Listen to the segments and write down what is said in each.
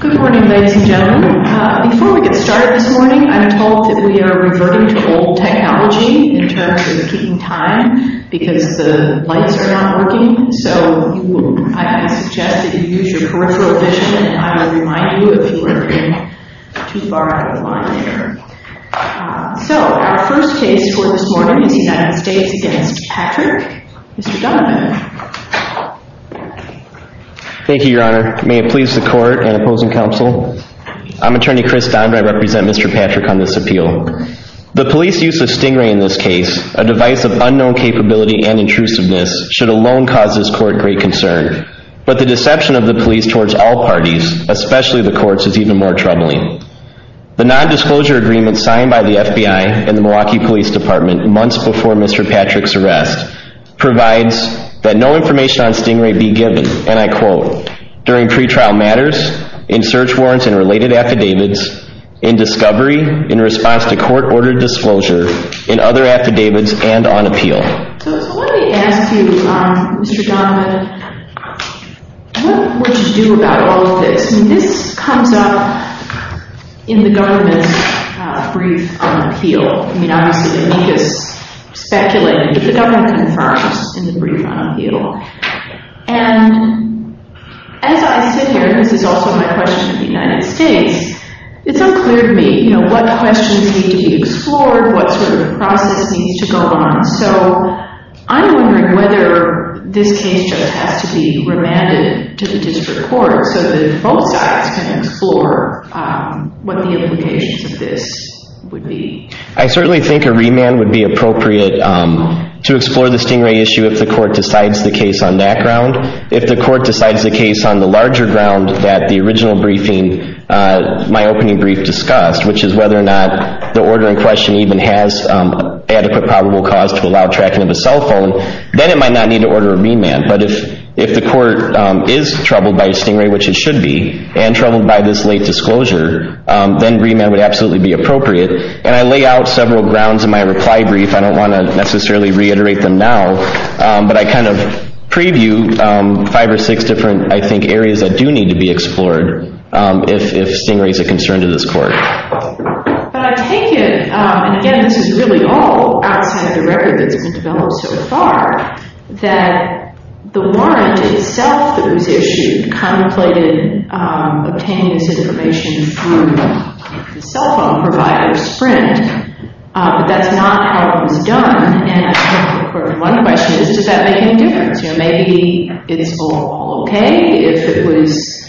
Good morning, ladies and gentlemen. Before we get started this morning, I am told that we are reverting to old technology in terms of keeping time because the lights are not working, so I suggest that you use your peripheral vision and I will remind you if you are too far out of line there. So, our first case for this morning is United States v. Patrick. Mr. Donovan. Thank you, your honor. May it please the court and opposing counsel. I'm attorney Chris Dondre. I represent Mr. Patrick on this appeal. The police use of stingray in this case, a device of unknown capability and intrusiveness, should alone cause this court great concern, but the deception of the police towards all parties, especially the courts, is even more troubling. The non-disclosure agreement signed by the FBI and the Milwaukee Police Department months before Mr. Patrick's arrest provides that no information on stingray be given, and I quote, during pretrial matters, in search warrants and related affidavits, in discovery, in response to court-ordered disclosure, in other affidavits, and on appeal. Okay, so let me ask you, Mr. Donovan, what would you do about all of this? I mean, this comes up in the government's brief on appeal. I mean, obviously the amicus speculated, but the government confirms in the brief on appeal, and as I sit here, this is also my question of the United States, it's unclear to me, you know, what questions need to be explored, what sort of process needs to go on. So I'm wondering whether this case just has to be remanded to the district court so that both sides can explore what the implications of this would be. I certainly think a remand would be appropriate to explore the stingray issue if the court decides the case on that ground. If the court decides the case on the larger ground that the original briefing, my opening brief discussed, which is whether or not the order in question even has adequate probable cause to allow tracking of a cell phone, then it might not need to order a remand. But if the court is troubled by a stingray, which it should be, and troubled by this late disclosure, then remand would absolutely be appropriate. And I lay out several grounds in my reply brief. I don't want to necessarily reiterate them now, but I kind of preview five or six different, I think, areas that do need to be explored if stingray is a concern to this court. But I take it, and again, this is really all outside the record that's been developed so far, that the warrant itself that was issued contemplated obtaining this information through the cell phone provider, Sprint. But that's not how it was done, and I think one question is, does that make any difference? Maybe it's all okay if it was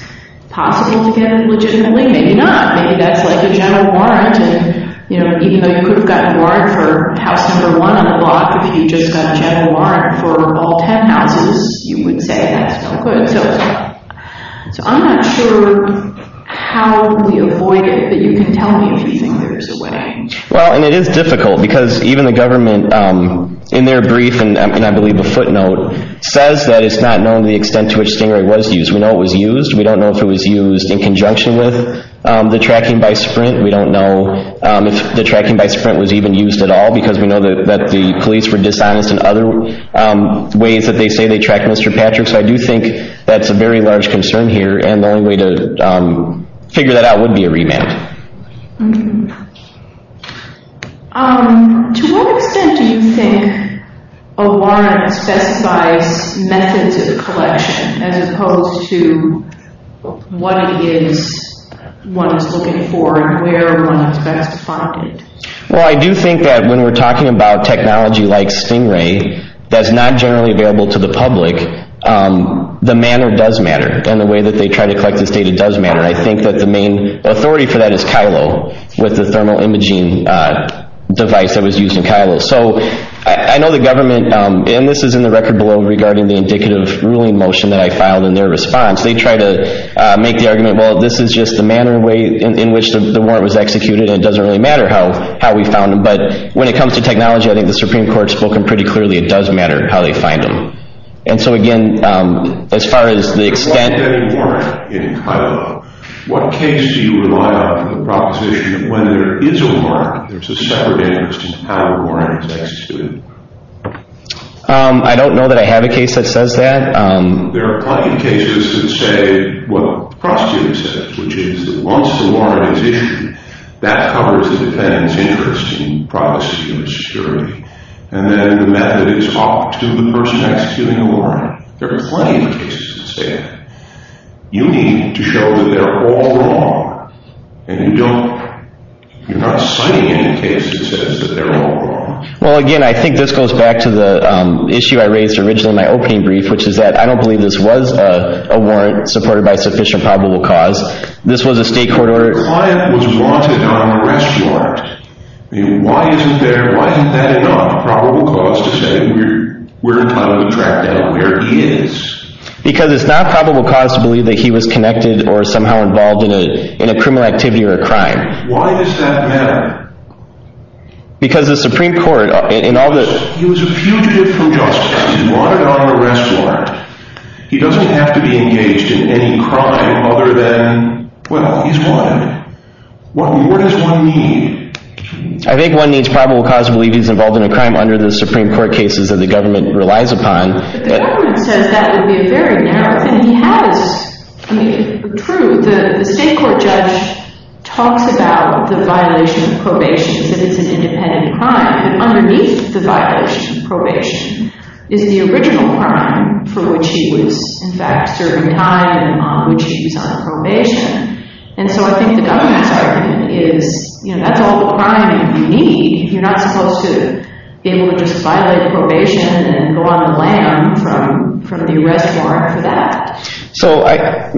possible to get it legitimately. Maybe not. Maybe that's like a general warrant, and even though you could have gotten a warrant for house number one on the block, if you just got a general warrant for all ten houses, you wouldn't say that's no good. So I'm not sure how we avoid it, but you can tell me if you think there's a way. That's a very large concern here, and the only way to figure that out would be a remand. To what extent do you think a warrant specifies methods of collection as opposed to what it is one is looking for and where one is best to find it? Well, I do think that when we're talking about technology like Stingray that's not generally available to the public, the manner does matter, and the way that they try to collect this data does matter. I think that the main authority for that is Kylo with the thermal imaging device that was used in Kylo. So I know the government, and this is in the record below regarding the indicative ruling motion that I filed in their response, they try to make the argument, well, this is just the manner in which the warrant was executed and it doesn't really matter how we found them. But when it comes to technology, I think the Supreme Court has spoken pretty clearly, it does matter how they find them. What case do you rely on for the proposition that when there is a warrant, there's a separate interest in how the warrant is executed? I don't know that I have a case that says that. There are plenty of cases that say what the prosecutor says, which is that once the warrant is issued, that covers the defendant's interest in privacy and security. And then the method is up to the person executing the warrant. There are plenty of cases that say that. You need to show that they're all wrong, and you're not citing any case that says that they're all wrong. Well, again, I think this goes back to the issue I raised originally in my opening brief, which is that I don't believe this was a warrant supported by sufficient probable cause. This was a state court order. The client was wanted on arrest warrant. Why isn't there, why isn't that enough probable cause to say we're trying to track down where he is? Because it's not probable cause to believe that he was connected or somehow involved in a criminal activity or a crime. Why does that matter? Because the Supreme Court, in all the... He was a fugitive from justice. He's wanted on arrest warrant. He doesn't have to be engaged in any crime other than, well, he's wanted. What does one need? I think one needs probable cause to believe he's involved in a crime under the Supreme Court cases that the government relies upon. But the government says that would be a very narrow thing. He has the truth. The state court judge talks about the violation of probation as if it's an independent crime. Underneath the violation of probation is the original crime for which he was, in fact, serving time, which he was on probation. And so I think the government's argument is that's all the crime you need. You're not supposed to be able to just violate probation and go on the lam from the arrest warrant for that. So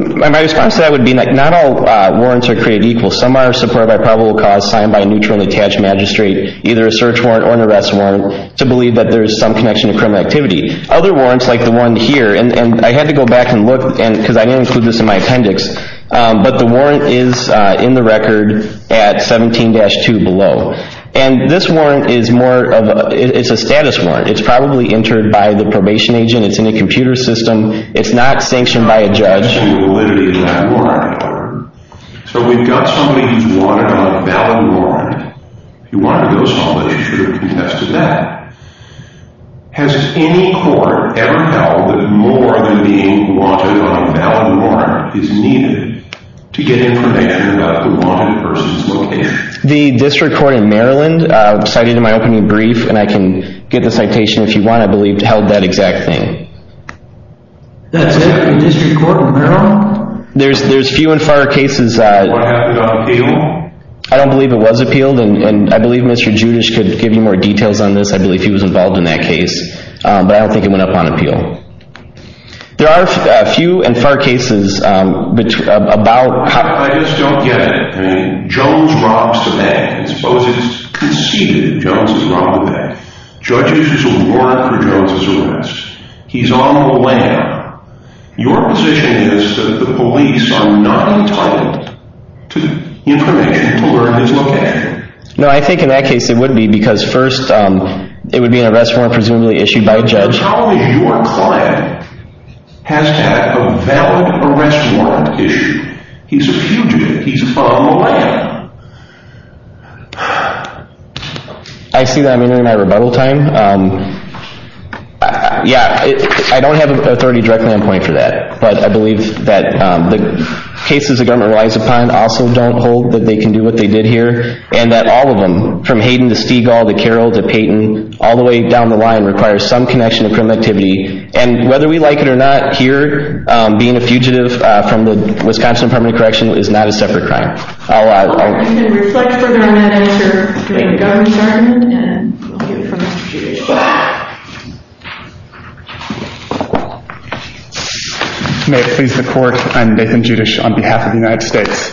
my response to that would be not all warrants are created equal. Some are supported by probable cause signed by a neutral and attached magistrate, either a search warrant or an arrest warrant, to believe that there is some connection to criminal activity. Other warrants, like the one here, and I had to go back and look because I didn't include this in my appendix, but the warrant is in the record at 17-2 below. And this warrant is more of a status warrant. It's probably entered by the probation agent. It's in a computer system. It's not sanctioned by a judge. So we've got somebody who's wanted on a valid warrant. If you wanted to go somebody, you should have contested that. Has any court ever held that more than being wanted on a valid warrant is needed to get information about the wanted person's location? The district court in Maryland cited in my opening brief, and I can get the citation if you want, I believe, held that exact thing. That's it? The district court in Maryland? There's few and far cases. What happened on appeal? I don't believe it was appealed, and I believe Mr. Judish could give you more details on this. I believe he was involved in that case. But I don't think it went up on appeal. There are few and far cases about how- I just don't get it. I mean, Jones robs the bank. Suppose it's conceded that Jones has robbed the bank. Judges will warrant for Jones's arrest. He's on the lam. Your position is that the police are not entitled to information to alert his location. No, I think in that case it would be because first, it would be an arrest warrant presumably issued by a judge. How is your client has to have a valid arrest warrant issued? He's a fugitive. He's on the lam. I see that I'm entering my rebuttal time. Yeah, I don't have authority directly on point for that. But I believe that the cases the government relies upon also don't hold that they can do what they did here. And that all of them, from Hayden to Stegall to Carroll to Payton, all the way down the line, require some connection to criminal activity. And whether we like it or not, here, being a fugitive from the Wisconsin Department of Corrections is not a separate crime. I'm going to reflect further on that answer to the government's argument, and I'll give it to Mr. Judish. May it please the court, I'm Nathan Judish on behalf of the United States.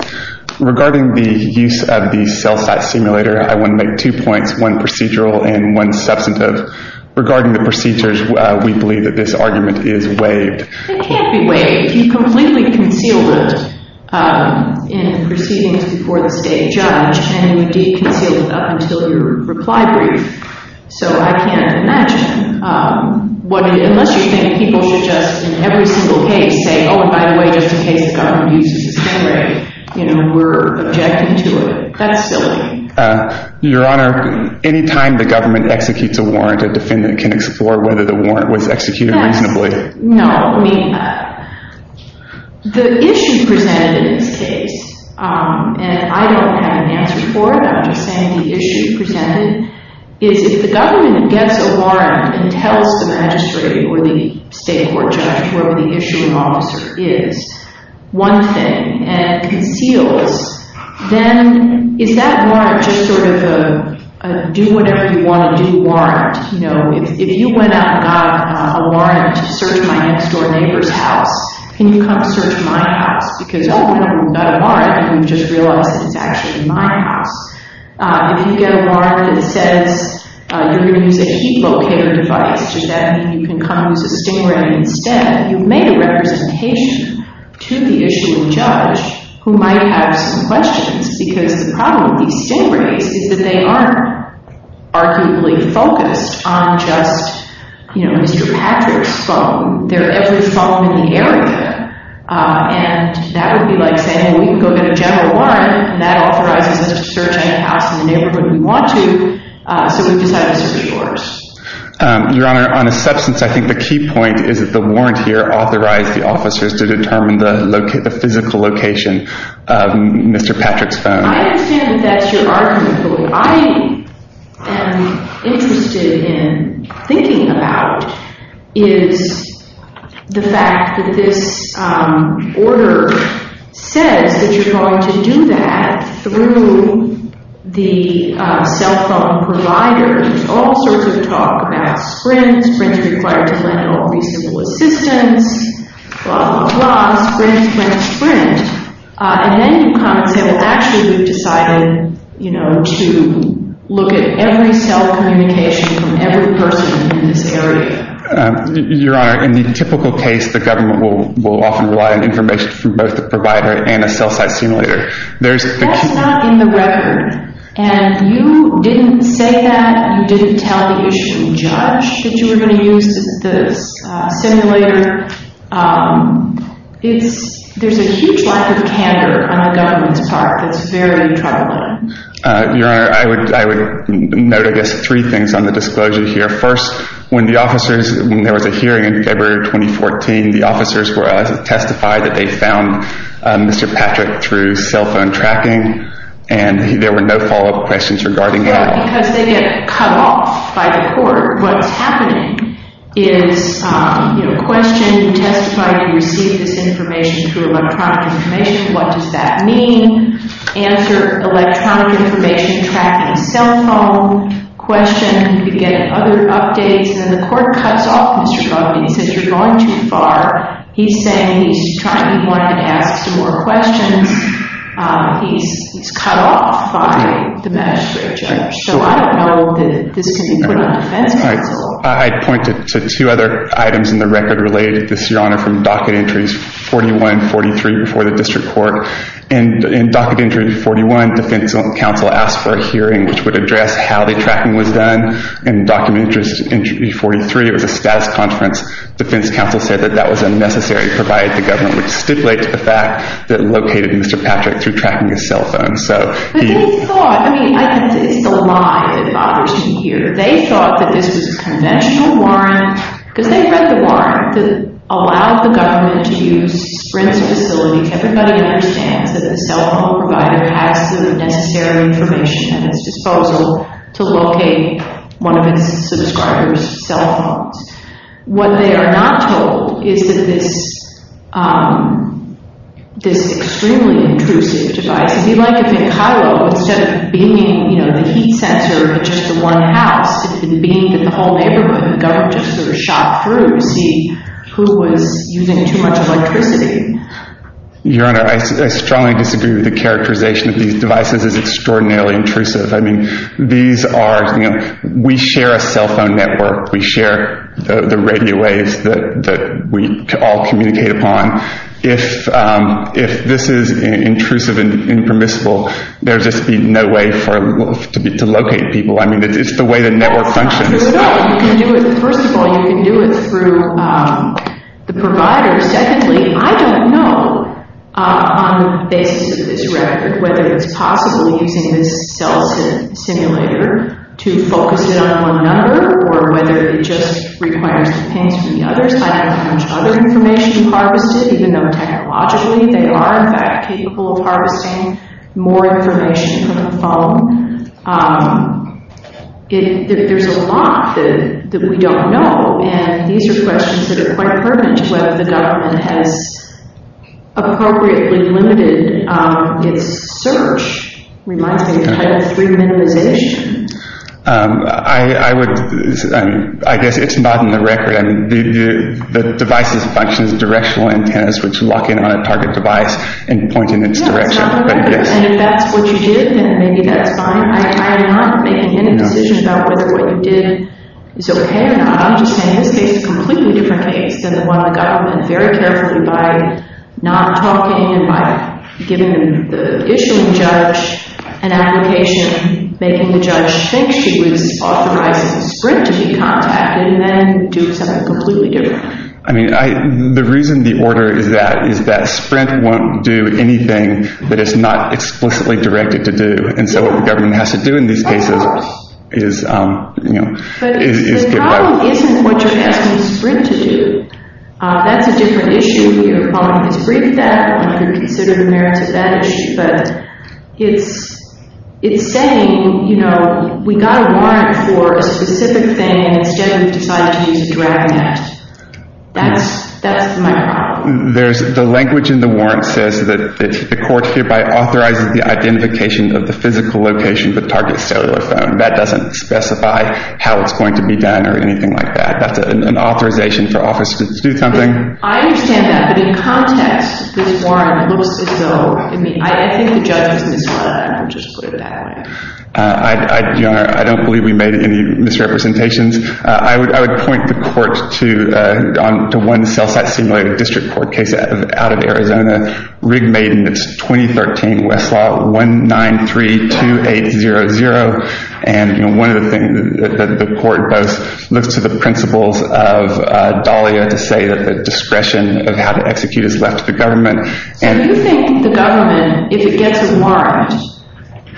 Regarding the use of the cell site simulator, I want to make two points, one procedural and one substantive. Regarding the procedures, we believe that this argument is waived. It can't be waived. You completely concealed it in proceedings before the state judge. And you did conceal it up until your reply brief. So I can't imagine, unless you think people should just, in every single case, say, oh, and by the way, just in case the government uses the sim rate, you know, we're objecting to it. That's silly. Your Honor, any time the government executes a warrant, a defendant can explore whether the warrant was executed reasonably. No. I mean, the issue presented in this case, and I don't have an answer for it, I'm just saying the issue presented, is if the government gets a warrant and tells the magistrate or the state court judge, whoever the issuing officer is, one thing, and it conceals, then is that warrant just sort of a do whatever you want to do warrant? You know, if you went out and got a warrant to search my next door neighbor's house, can you come search my house? Because, oh, you got a warrant and you just realized that it's actually my house. If you get a warrant that says you're going to use a heat locator device, does that mean you can come use a sim rate instead? You've made a representation to the issuing judge who might have some questions, because the problem with these sim rates is that they aren't arguably focused on just, you know, Mr. Patrick's phone. They're every phone in the area, and that would be like saying, well, we can go get a general warrant, and that authorizes us to search any house in the neighborhood we want to, so we've decided to search yours. Your Honor, on a substance, I think the key point is that the warrant here authorized the officers to determine the physical location of Mr. Patrick's phone. I understand that that's your argument, but what I am interested in thinking about is the fact that this order says that you're going to do that through the cell phone provider. There's all sorts of talk about Sprint. Sprint is required to lend all reasonable assistance, blah, blah, blah. Sprint, Sprint, Sprint, and then you come and say, well, actually, we've decided, you know, to look at every cell communication from every person in this area. Your Honor, in the typical case, the government will often rely on information from both the provider and a cell site simulator. That's not in the record, and you didn't say that. You didn't tell the issue judge that you were going to use the simulator. There's a huge lack of candor on the government's part that's very troubling. Your Honor, I would note, I guess, three things on the disclosure here. First, when the officers, when there was a hearing in February 2014, the officers were able to testify that they found Mr. Patrick through cell phone tracking, and there were no follow-up questions regarding that. Yeah, because they get cut off by the court. What's happening is, you know, question, you testify you received this information through electronic information. What does that mean? Answer, electronic information tracking, cell phone, question, you get other updates, and then the court cuts off Mr. Covey and says you're going too far. He's saying he wanted to ask some more questions. He's cut off by the magistrate or judge. So I don't know that this can be put on defense counsel. I'd point to two other items in the record related to this, Your Honor, from docket entries 41 and 43 before the district court. In docket entry 41, defense counsel asked for a hearing which would address how the tracking was done and in docket entry 43, it was a status conference. Defense counsel said that that was unnecessary to provide the government which stipulates the fact that it located Mr. Patrick through tracking his cell phone. But they thought, I mean, it's the lie that bothers me here. They thought that this was a conventional warrant because they read the warrant that allowed the government to use Sprint's facilities. Everybody understands that the cell phone provider has the necessary information at its disposal to locate one of its subscribers' cell phones. What they are not told is that this extremely intrusive device, if you'd like to think high level, instead of beaming the heat sensor at just the one house, it's been beamed at the whole neighborhood. The government just sort of shot through to see who was using too much electricity. Your Honor, I strongly disagree with the characterization of these devices as extraordinarily intrusive. I mean, these are, you know, we share a cell phone network. We share the radio waves that we all communicate upon. If this is intrusive and impermissible, there would just be no way to locate people. I mean, it's the way the network functions. No, you can do it. First of all, you can do it through the provider. Secondly, I don't know, on the basis of this record, whether it's possible using this cell simulator to focus it on one number or whether it just requires the pins from the others. I don't have much other information harvested, even though, technologically, they are, in fact, capable of harvesting more information from the phone. There's a lot that we don't know, and these are questions that are quite pertinent to whether the government has appropriately limited its search. It reminds me of Title III minimization. I guess it's not in the record. I mean, the device's function is directional antennas which lock in on a target device and point in its direction. Yeah, it's not in the record, and if that's what you did, then maybe that's fine. I'm not making any decision about whether what you did is okay or not. I'm just saying this case is a completely different case than the one the government, very carefully by not talking and by giving the issuing judge an application, making the judge think she was authorized as a Sprint to be contacted, and then doing something completely different. I mean, the reason the order is that is that Sprint won't do anything that it's not explicitly directed to do, and so what the government has to do in these cases is get by with it. The problem isn't what you're asking Sprint to do. That's a different issue. We are calling this briefed act. I don't know if you're considering merits of that issue, but it's saying, you know, we got a warrant for a specific thing, and instead we've decided to use a drag net. That's my problem. The language in the warrant says that the court hereby authorizes the identification of the physical location of the target cellular phone. That doesn't specify how it's going to be done or anything like that. That's an authorization for officers to do something. I understand that, but in context, this warrant, I think the judge is misled. I'll just put it that way. Your Honor, I don't believe we made any misrepresentations. I would point the court to one cell site simulated district court case out of Arizona, Rig Maiden, it's 2013, Westlaw, 1932800. And, you know, one of the things that the court does, looks to the principles of Dahlia to say that the discretion of how to execute is left to the government. So you think the government, if it gets a warrant,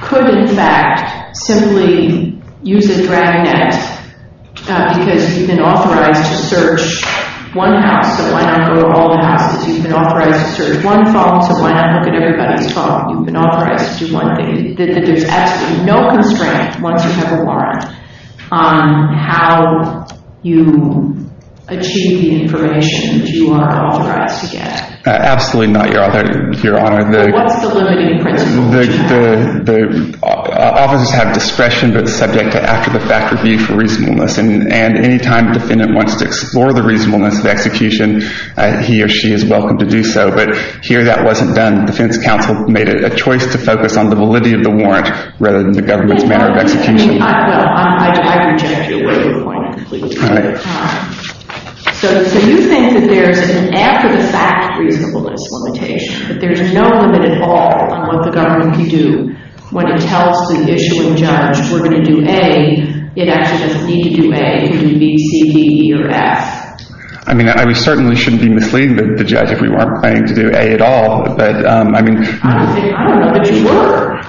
could in fact simply use a drag net because you've been authorized to search one house, so why not go to all the houses? You've been authorized to search one phone, so why not look at everybody's phone? You've been authorized to do one thing. There's absolutely no constraint, once you have a warrant, on how you achieve the information that you are authorized to get. Absolutely not, Your Honor. What's the limiting principle? Officers have discretion, but it's subject to after-the-fact review for reasonableness. And any time the defendant wants to explore the reasonableness of execution, he or she is welcome to do so. But here that wasn't done. The defense counsel made it a choice to focus on the validity of the warrant rather than the government's manner of execution. I reject your point completely. All right. So you think that there's an after-the-fact reasonableness limitation, that there's no limit at all on what the government can do when it tells the issuing judge, we're going to do A, it actually doesn't need to do A. It can do B, C, D, E, or F. I mean, we certainly shouldn't be misleading the judge if we weren't planning to do A at all. I don't know that you were.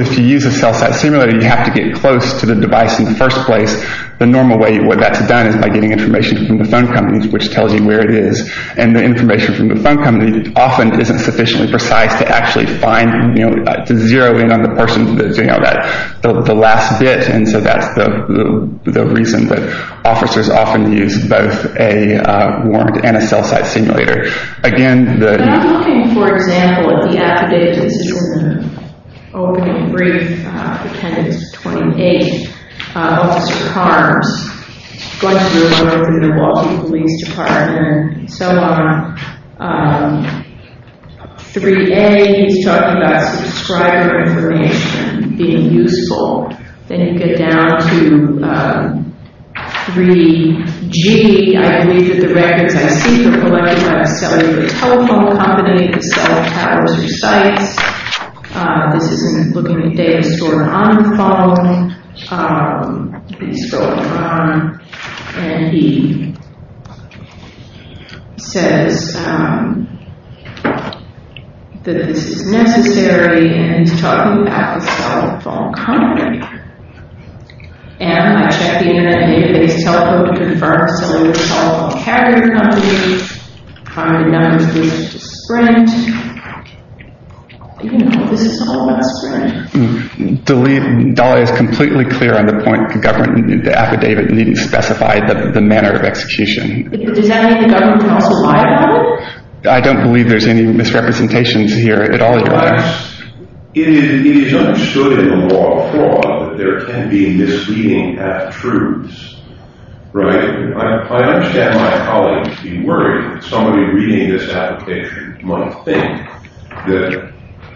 If you use a cell-site simulator, you have to get close to the device in the first place. The normal way that's done is by getting information from the phone companies, which tells you where it is. And the information from the phone company often isn't sufficiently precise to actually find, to zero in on the person that's doing all that, the last bit. And so that's the reason that officers often use both a warrant and a cell-site simulator. But I'm looking, for example, at the affidavit. This is sort of an opening brief. Appendix 28, Officer Carms, going through a letter from the Milwaukee Police Department, and so on. 3A, he's talking about subscriber information being useful. Then you get down to 3G. I believe that the records I see from Milwaukee Web sell you the telephone company that sells towers or sites. This is him looking at data stored on the phone. He's scrolling on. And he says that this is necessary, and he's talking about the cell phone company. And I check the internet, and I get that his telephone confirms that it's a cell phone carrier company. The number is listed as Sprint. You know, this is all about Sprint. Dolly is completely clear on the point. The government, the affidavit, needn't specify the manner of execution. Does that mean the government can also lie about it? I don't believe there's any misrepresentations here at all. It is understood in the law of fraud that there can be misleading after-truths, right? I understand my colleagues being worried that somebody reading this application might think that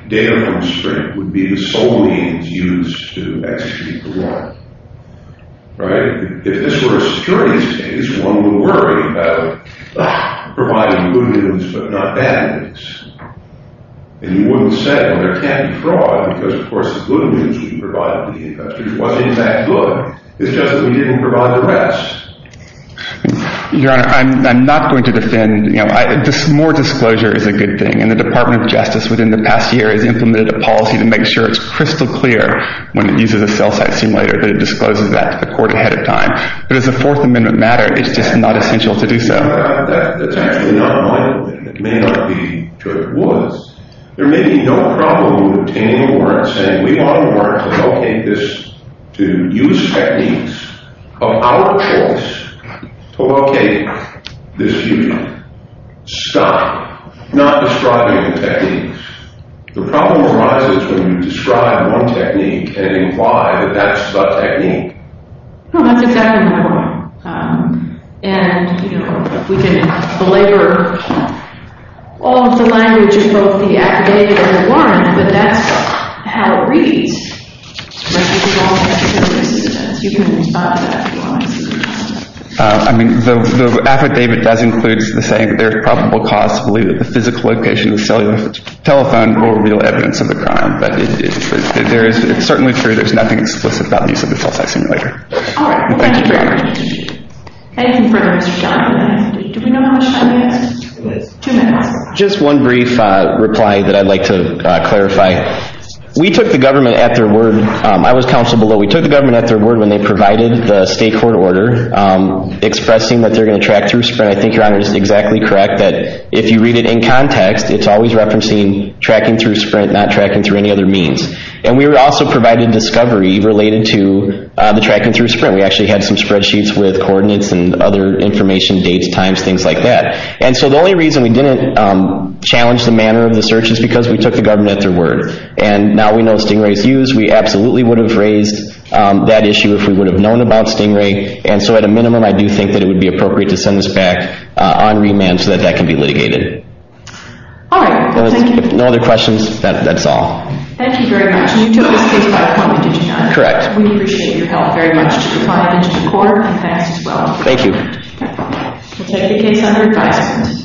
data from Sprint would be the sole means used to execute the law, right? If this were a securities case, one would worry about providing good news but not bad news. And you wouldn't say, well, there can't be fraud because, of course, the good news would be provided to the investors. It wasn't that good. It's just that we didn't provide the rest. Your Honor, I'm not going to defend. More disclosure is a good thing, and the Department of Justice, within the past year, has implemented a policy to make sure it's crystal clear when it uses a cell-site simulator that it discloses that to the court ahead of time. But does the Fourth Amendment matter? It's just not essential to do so. That's actually not my opinion. It may not be to what it was. There may be no problem with obtaining a warrant saying we want a warrant to locate this, to use techniques of our choice to locate this human. Stop. Not describing the techniques. The problem arises when you describe one technique and imply that that's the technique. No, that's exactly my point. And, you know, we can belabor all of the language in both the affidavit and the warrant, but that's how it reads. But if you don't have clear resistance, you can respond to that if you want. I mean, the affidavit does include the saying that there's probable cause to believe that the physical location of the cellular telephone will reveal evidence of the crime. But it's certainly true, there's nothing explicit about the use of a cell-site simulator. All right, thank you very much. Anything further? Mr. Johnathan, do we know how much time we have? Two minutes. Just one brief reply that I'd like to clarify. We took the government at their word. I was counsel below. We took the government at their word when they provided the state court order expressing that they're going to track through SPRINT. I think Your Honor is exactly correct that if you read it in context, it's always referencing tracking through SPRINT, not tracking through any other means. And we also provided discovery related to the tracking through SPRINT. We actually had some spreadsheets with coordinates and other information, dates, times, things like that. And so the only reason we didn't challenge the manner of the search is because we took the government at their word. And now we know Stingray's used. We absolutely would have raised that issue if we would have known about Stingray. And so at a minimum, I do think that it would be appropriate to send this back on remand so that that can be litigated. All right, thank you. No other questions? That's all. Thank you very much. And you took this case by appointment, did you not? Correct. We appreciate your help very much to the client and to the court. And thanks as well. Thank you. We'll take the case under advisement.